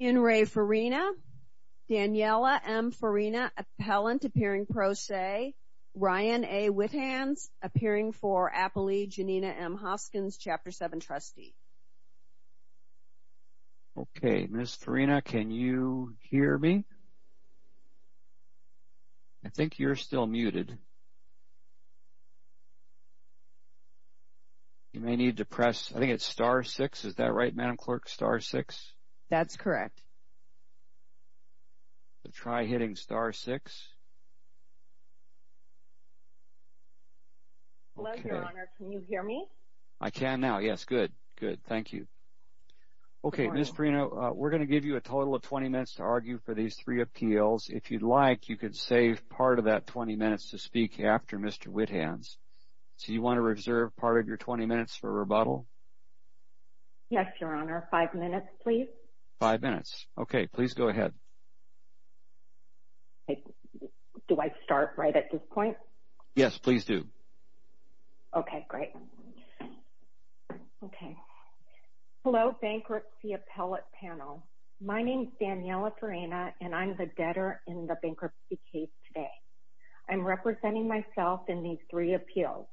Inrae Farina, Daniela M. Farina, appellant, appearing pro se, Ryan A. Withans, appearing for Appley, Janina M. Hoskins, Chapter 7 trustee. Okay, Ms. Farina, can you hear me? I think you're still muted. You may need to press, I think it's star six, is that right, Madam Clerk, star six? That's correct. Try hitting star six. Hello, Your Honor, can you hear me? I can now, yes, good, good, thank you. Okay, Ms. Farina, we're going to give you a total of 20 minutes to argue for these three appeals. If you'd like, you could save part of that 20 minutes to speak after Mr. Withans. Do you want to reserve part of your 20 minutes for rebuttal? Yes, Your Honor, five minutes, please. Five minutes, okay, please go ahead. Do I start right at this point? Yes, please do. Okay, great. Okay. Hello, bankruptcy appellate panel. My name is Daniela Farina, and I'm the debtor in the bankruptcy case today. I'm representing myself in these three appeals.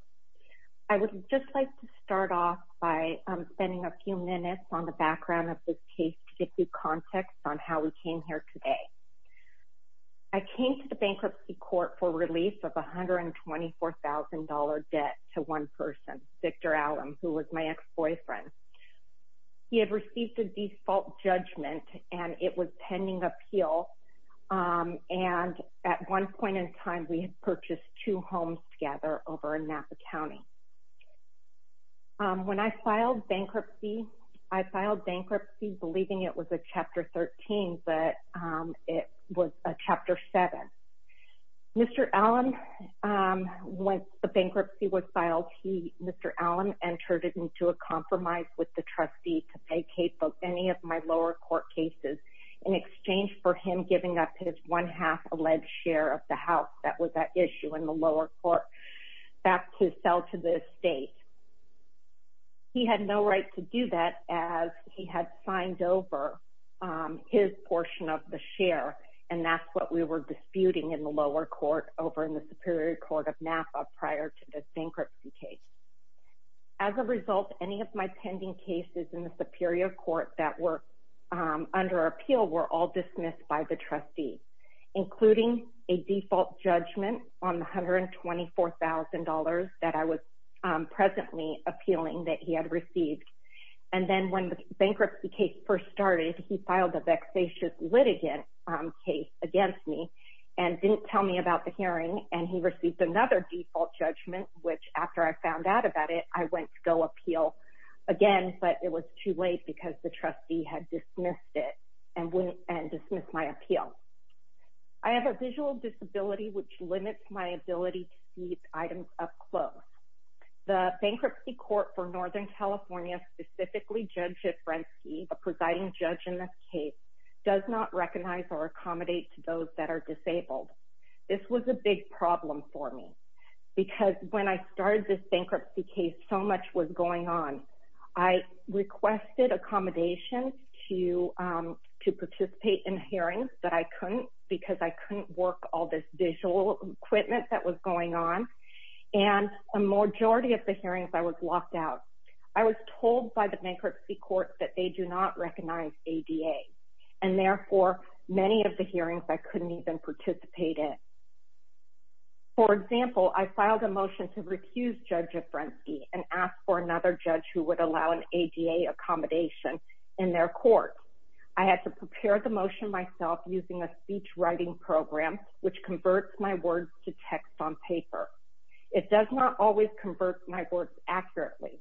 I would just like to start off by spending a few minutes on the background of this case to give you context on how we came here today. I came to the bankruptcy court for release of $124,000 debt to one person, Victor Allum, who was my ex-boyfriend. He had received a default judgment, and it was pending appeal. And at one point in time, we had purchased two homes together over in Napa County. When I filed bankruptcy, I filed bankruptcy believing it was a Chapter 13, but it was a Chapter 7. Mr. Allum, when the bankruptcy was filed, Mr. Allum entered it into a compromise with the trustee to pay Cape of any of my lower court cases in exchange for him giving up his one-half alleged share of the house that was at issue in the lower court back to sell to the estate. He had no right to do that as he had signed over his portion of the share, and that's what we were disputing in the lower court over in the Superior Court of Napa prior to this bankruptcy case. As a result, any of my pending cases in the Superior Court that were under appeal were all dismissed by the trustee, including a default judgment on the $124,000 that I was presently appealing that he had received. And then when the bankruptcy case first started, he filed a vexatious litigant case against me and didn't tell me about the hearing, and he received another default judgment, which after I found out about it, I went to go appeal again, but it was too late because the trustee had dismissed it and dismissed my appeal. I have a visual disability which limits my ability to see items up close. The bankruptcy court for Northern California, specifically Judge Jifrensky, the presiding judge in this case, does not recognize or accommodate to those that are disabled. This was a big problem for me because when I started this bankruptcy case, so much was going on. I requested accommodation to participate in hearings, but I couldn't because I couldn't work all this visual equipment that was going on, and a majority of the hearings I was locked out. I was told by the bankruptcy court that they do not recognize ADA, and therefore, many of the hearings I couldn't even participate in. For example, I filed a motion to refuse Judge Jifrensky and ask for another judge who would allow an ADA accommodation in their court. I had to prepare the motion myself using a speech writing program which converts my words to text on paper. It does not always convert my words accurately.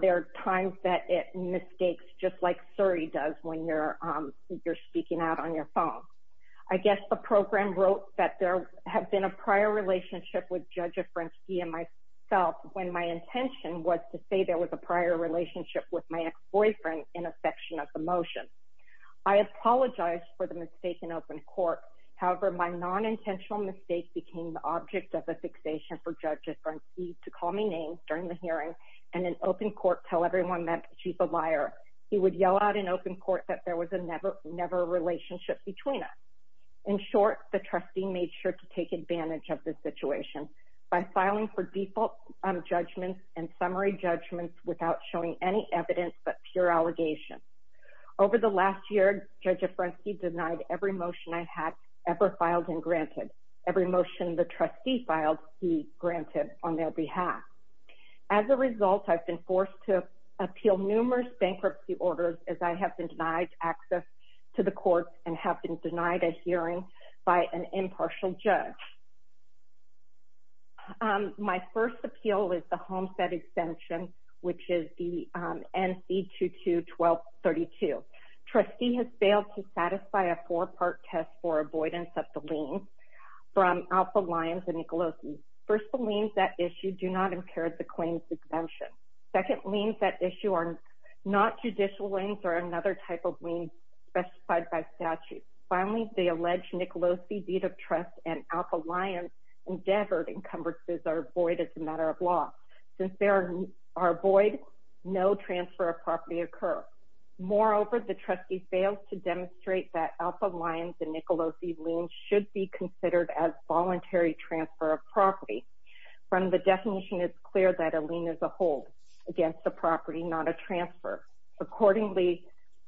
There are times that it mistakes just like Surrey does when you're speaking out on your phone. I guess the program wrote that there had been a prior relationship with Judge Jifrensky and myself when my intention was to say there was a prior relationship with my ex-boyfriend in a section of the motion. I apologized for the mistake in open court, however, my non-intentional mistake became the object of a fixation for Judge Jifrensky to call me names during the hearing and in open court tell everyone that she's a liar. He would yell out in open court that there was never a relationship between us. In short, the trustee made sure to take advantage of the situation by filing for default judgments and summary judgments without showing any evidence but pure allegations. Over the last year, Judge Jifrensky denied every motion I had ever filed and granted, every motion the trustee filed he granted on their behalf. As a result, I've been forced to appeal numerous bankruptcy orders as I have been denied access to the courts and have been denied a hearing by an impartial judge. My first appeal is the Homestead Exemption, which is the NC22-1232. Trustee has failed to satisfy a four-part test for avoidance of the liens from Alpha Lyons and Nicolosi. First, the liens that issue do not impair the claim's exemption. Second, liens that issue are not judicial liens or another type of lien specified by statute. Finally, the alleged Nicolosi deed of trust and Alpha Lyons endeavored encumbrances are void as a matter of law. Since they are void, no transfer of property occurs. Moreover, the trustee failed to demonstrate that Alpha Lyons and Nicolosi liens should be considered as voluntary transfer of property. From the definition, it's clear that a lien is a hold against a property, not a transfer. Accordingly,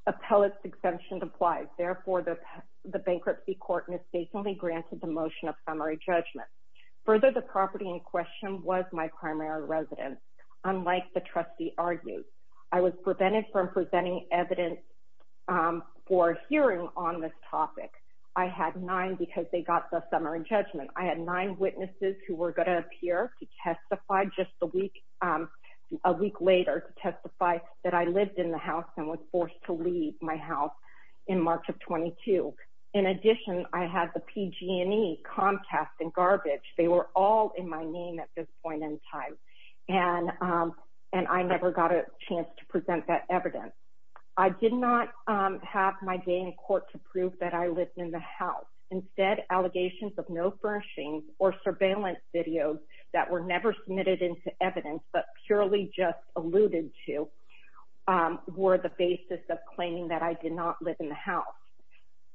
appellate exemption applies. Therefore, the bankruptcy court is basically granted the motion of summary judgment. Further, the property in question was my primary residence, unlike the trustee argued. I was prevented from presenting evidence for a hearing on this topic. I had nine because they got the summary judgment. I had nine witnesses who were going to appear to testify just a week later to testify that I lived in the house and was forced to leave my house in March of 22. In addition, I had the PG&E, Comcast, and Garbage. They were all in my name at this point in time. And I never got a chance to present that evidence. I did not have my day in court to prove that I lived in the house. Instead, allegations of no furnishings or surveillance videos that were never submitted into evidence, but purely just alluded to, were the basis of claiming that I did not live in the house.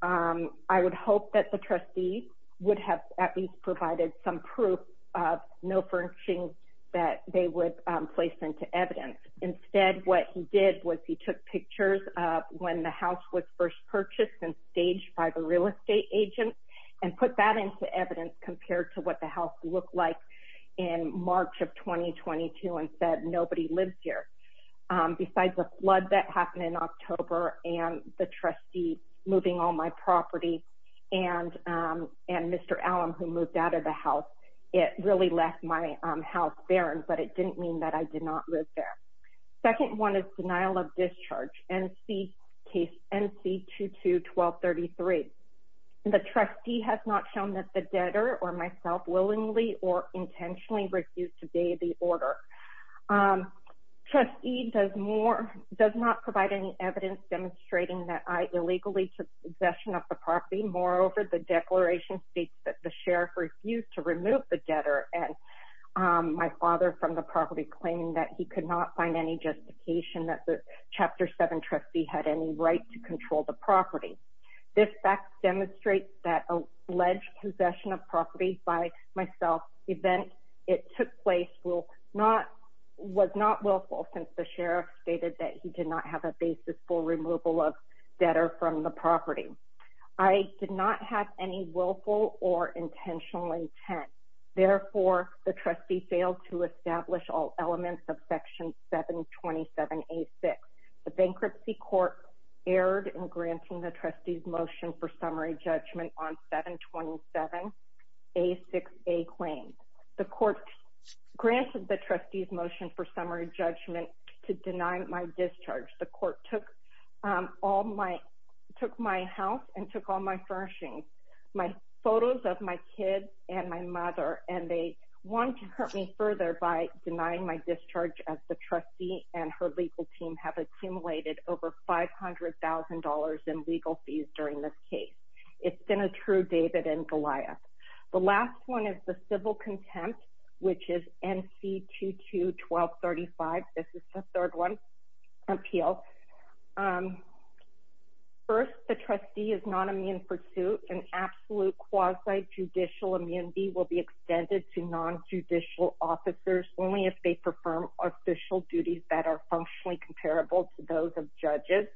I would hope that the trustee would have at least provided some proof of no furnishings that they would place into evidence. Instead, what he did was he took pictures of when the house was first purchased and staged by the real estate agent and put that into evidence compared to what the house looked like in March of 2022 and said, nobody lives here. Besides the flood that happened in October and the trustee moving all my property and Mr. Allum, who moved out of the house, it really left my house barren, but it didn't mean that I did not live there. Second one is denial of discharge, NC 22-1233. The trustee has not shown that the debtor or myself willingly or intentionally refused to pay the order. Trustee does not provide any evidence demonstrating that I illegally took possession of the property. Moreover, the declaration states that the sheriff refused to remove the debtor and my father from the property claiming that he could not find any justification that the This fact demonstrates that alleged possession of property by myself event it took place was not willful since the sheriff stated that he did not have a basis for removal of debtor from the property. I did not have any willful or intentional intent. Therefore, the trustee failed to establish all elements of Section 727-A-6. The bankruptcy court erred in granting the trustee's motion for summary judgment on 727-A-6-A claims. The court granted the trustee's motion for summary judgment to deny my discharge. The court took my house and took all my furnishings, my photos of my kids and my mother, and they want to hurt me further by denying my discharge as the trustee and her legal team have accumulated over $500,000 in legal fees during this case. It's been a true David and Goliath. The last one is the civil contempt, which is NC 22-1235. This is the third one, appeal. First, the trustee is non-immune for two. An absolute quasi-judicial immunity will be extended to non-judicial officers only if they perform official duties that are functionally comparable to those of judges,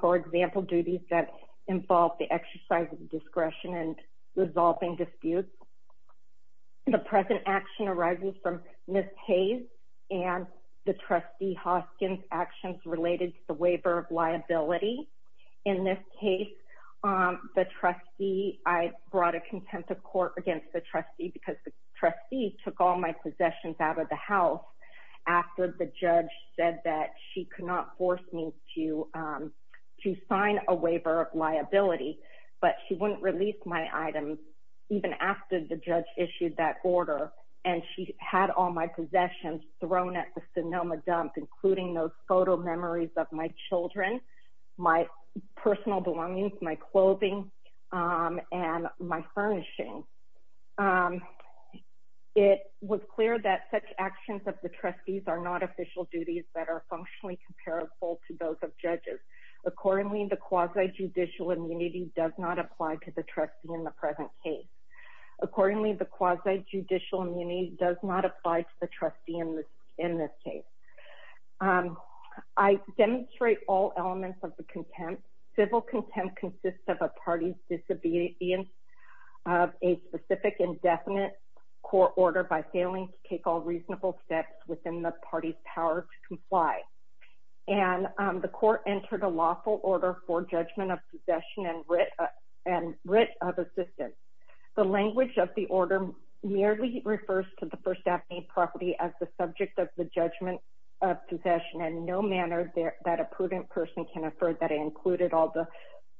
for example, duties that involve the exercise of discretion in resolving disputes. The present action arises from Ms. Hayes and the trustee Hoskins' actions related to the waiver of liability. In this case, the trustee, I brought a contempt of court against the trustee because the trustee took all my possessions out of the house after the judge said that she could not force me to sign a waiver of liability, but she wouldn't release my items even after the judge issued that order, and she had all my possessions thrown at the Sonoma dump, including those literal memories of my children, my personal belongings, my clothing, and my furnishing. It was clear that such actions of the trustees are not official duties that are functionally comparable to those of judges. Accordingly, the quasi-judicial immunity does not apply to the trustee in the present case. Accordingly, the quasi-judicial immunity does not apply to the trustee in this case. I demonstrate all elements of the contempt. Civil contempt consists of a party's disobedience of a specific indefinite court order by failing to take all reasonable steps within the party's power to comply. And the court entered a lawful order for judgment of possession and writ of assistance. The language of the order merely refers to the First Avenue property as the subject of the judgment of possession in no manner that a prudent person can affirm that it included all the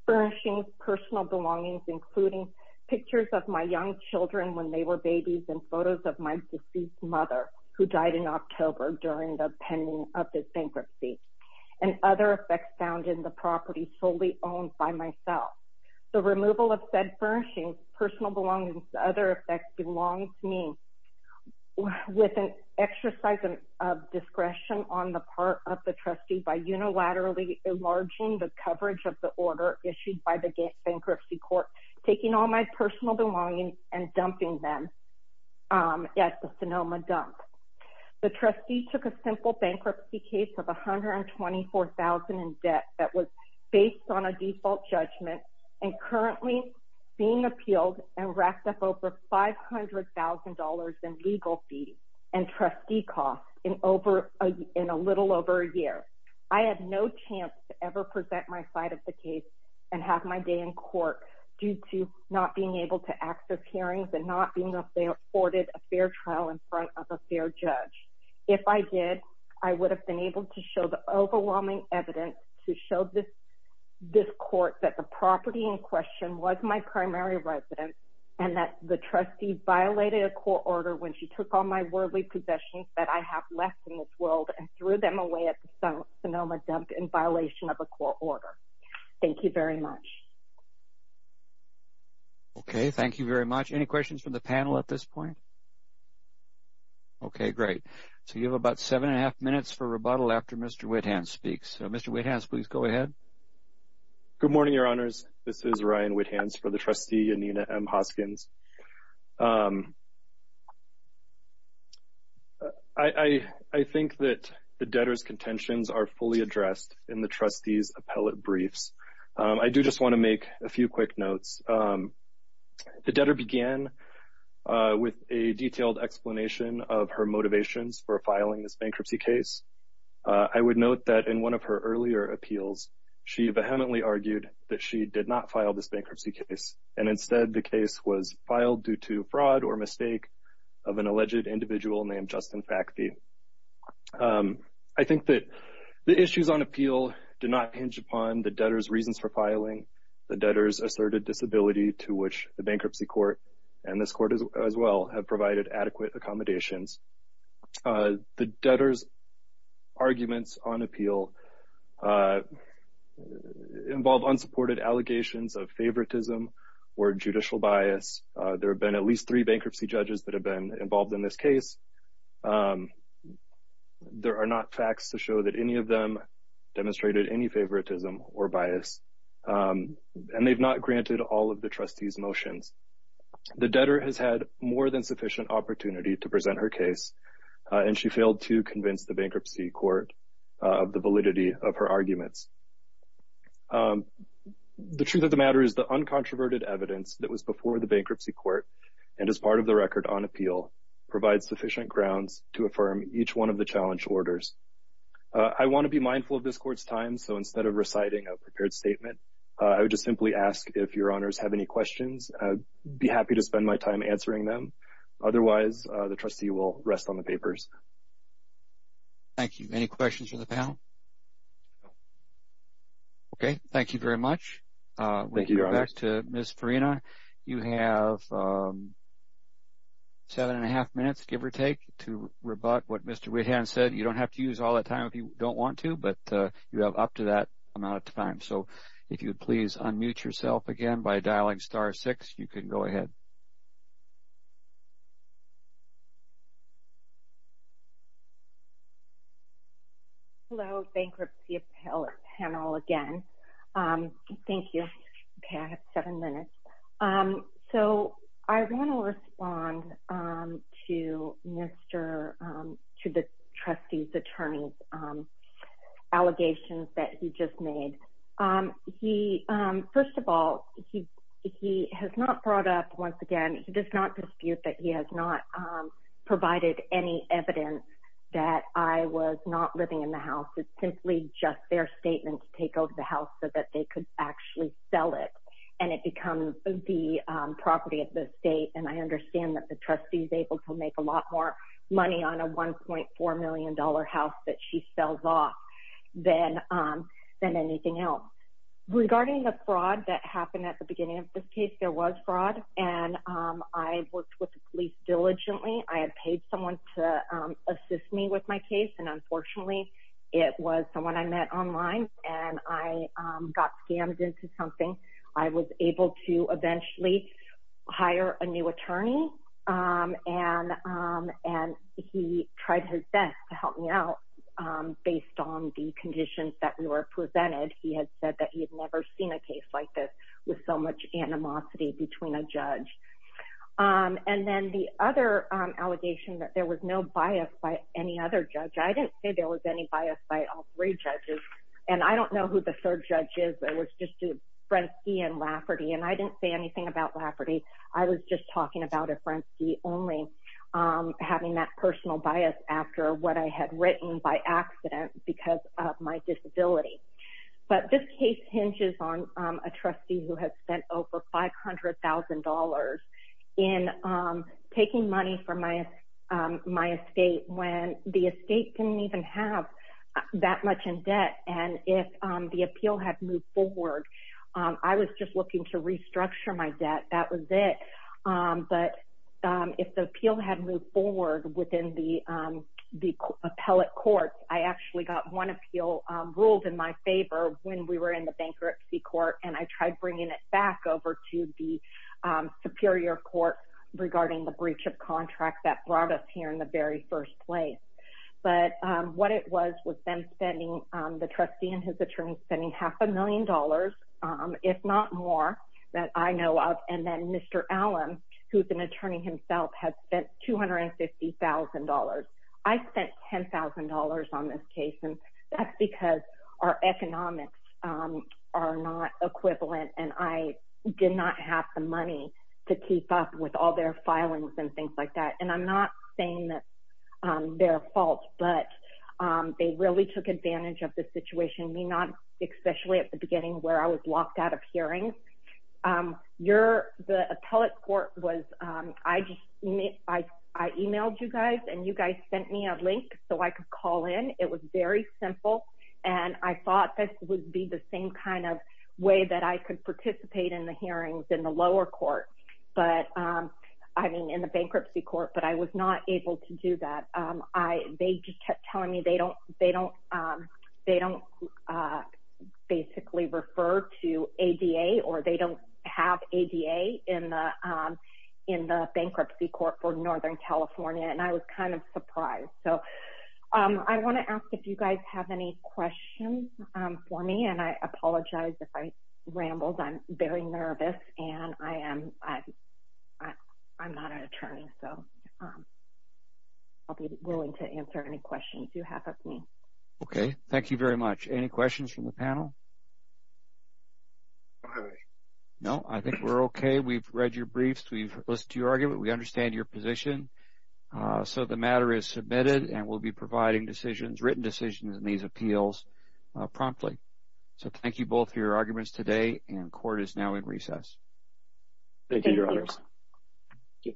furnishings, personal belongings, including pictures of my young children when they were babies and photos of my deceased mother, who died in October during the pending of this bankruptcy, and other effects found in the property solely owned by myself. The removal of said furnishings, personal belongings, and other effects belongs to me with an exercise of discretion on the part of the trustee by unilaterally enlarging the coverage of the order issued by the bankruptcy court, taking all my personal belongings and dumping them at the Sonoma dump. The trustee took a simple bankruptcy case of $124,000 in debt that was based on a default judgment and currently being appealed and racked up over $500,000 in legal fees and trustee costs in a little over a year. I had no chance to ever present my side of the case and have my day in court due to not being able to access hearings and not being afforded a fair trial in front of a fair judge. If I did, I would have been able to show the overwhelming evidence to show this court that the property in question was my primary residence and that the trustee violated a court order when she took all my worldly possessions that I have left in this world and threw them away at the Sonoma dump in violation of a court order. Thank you very much. Okay, thank you very much. Any questions from the panel at this point? Okay, great. So you have about seven and a half minutes for rebuttal after Mr. Whithans speaks. Mr. Whithans, please go ahead. Good morning, Your Honors. This is Ryan Whithans for the trustee, Anina M. Hoskins. I think that the debtor's contentions are fully addressed in the trustee's appellate briefs. I do just want to make a few quick notes. The debtor began with a detailed explanation of her motivations for filing this bankruptcy case. I would note that in one of her earlier appeals, she vehemently argued that she did not file this bankruptcy case, and instead the case was filed due to fraud or mistake of an alleged individual named Justin Facti. I think that the issues on appeal did not hinge upon the debtor's reasons for filing, the debtor's asserted disability to which the bankruptcy court, and this court as well, have provided adequate accommodations. The debtor's arguments on appeal involved unsupported allegations of favoritism or judicial bias. There have been at least three bankruptcy judges that have been involved in this case. There are not facts to show that any of them demonstrated any favoritism or bias. And they've not granted all of the trustee's motions. The debtor has had more than sufficient opportunity to present her case, and she failed to convince the bankruptcy court of the validity of her arguments. The truth of the matter is the uncontroverted evidence that was before the bankruptcy court, and is part of the record on appeal, provides sufficient grounds to affirm each one of the challenge orders. I want to be mindful of this court's time, so instead of reciting a prepared statement, I would just simply ask if your honors have any questions. I'd be happy to spend my time answering them. Otherwise, the trustee will rest on the papers. Thank you. Any questions from the panel? Okay. Thank you very much. Thank you, Your Honor. We'll go back to Ms. Farina. You have seven and a half minutes, give or take, to rebut what Mr. Whitham said. You don't have to use all that time if you don't want to, but you have up to that amount of time. So if you would please unmute yourself again by dialing star six, you can go ahead. Hello, Bankruptcy Appellate Panel again. Thank you. Okay, I have seven minutes. So I want to respond to the trustee's attorney's allegations that he just made. First of all, he has not brought up, once again, he does not dispute that he has not provided any evidence that I was not living in the house. It's simply just their statement to take over the house so that they could actually sell it. And it becomes the property of the state. And I understand that the trustee is able to make a lot more money on a $1.4 million house that she sells off than anything else. Regarding the fraud that happened at the beginning of this case, there was fraud. And I worked with the police diligently. I had paid someone to assist me with my case. And unfortunately, it was someone I met online and I got scammed into something. I was able to eventually hire a new attorney. And he tried his best to help me out based on the conditions that we were presented. He had said that he had never seen a case like this with so much animosity between a judge. And then the other allegation that there was no bias by any other judge. I didn't say there was any bias by all three judges. And I don't know who the third judge is. It was just Frensky and Lafferty. And I didn't say anything about Lafferty. I was just talking about a Frensky only having that personal bias after what I had written by accident because of my disability. But this case hinges on a trustee who has spent over $500,000 in taking money from my estate when the estate didn't even have that much in debt. And if the appeal had moved forward, I was just looking to restructure my debt. That was it. But if the appeal had moved forward within the appellate courts, I actually got one appeal ruled in my favor when we were in the bankruptcy court. And I tried bringing it back over to the superior court regarding the breach of contract that brought us here in the very first place. But what it was was them spending, the trustee and his attorney spending half a million dollars, if not more, that I know of. And then Mr. Allen, who's an attorney himself, has spent $250,000. I spent $10,000 on this case. And that's because our economics are not equivalent. And I did not have the money to keep up with all their filings and things like that. And I'm not saying that they're at fault, but they really took advantage of the situation. We not, especially at the beginning where I was locked out of hearings. The appellate court was, I emailed you guys and you guys sent me a link so I could call in. It was very simple. And I thought this would be the same kind of way that I could participate in the hearings in the lower court. I mean, in the bankruptcy court, but I was not able to do that. They just kept telling me they don't basically refer to ADA or they don't have ADA in the bankruptcy court for Northern California. And I was kind of surprised. So I want to ask if you guys have any questions for me. And I apologize if I rambled. I'm very nervous and I'm not an attorney. So I'll be willing to answer any questions you have of me. Okay, thank you very much. Any questions from the panel? No, I think we're okay. We've read your briefs. We've listened to your argument. We understand your position. So the matter is submitted and we'll be providing written decisions in these appeals promptly. So thank you both for your arguments today, and court is now in recess. Thank you, Your Honors. Thank you.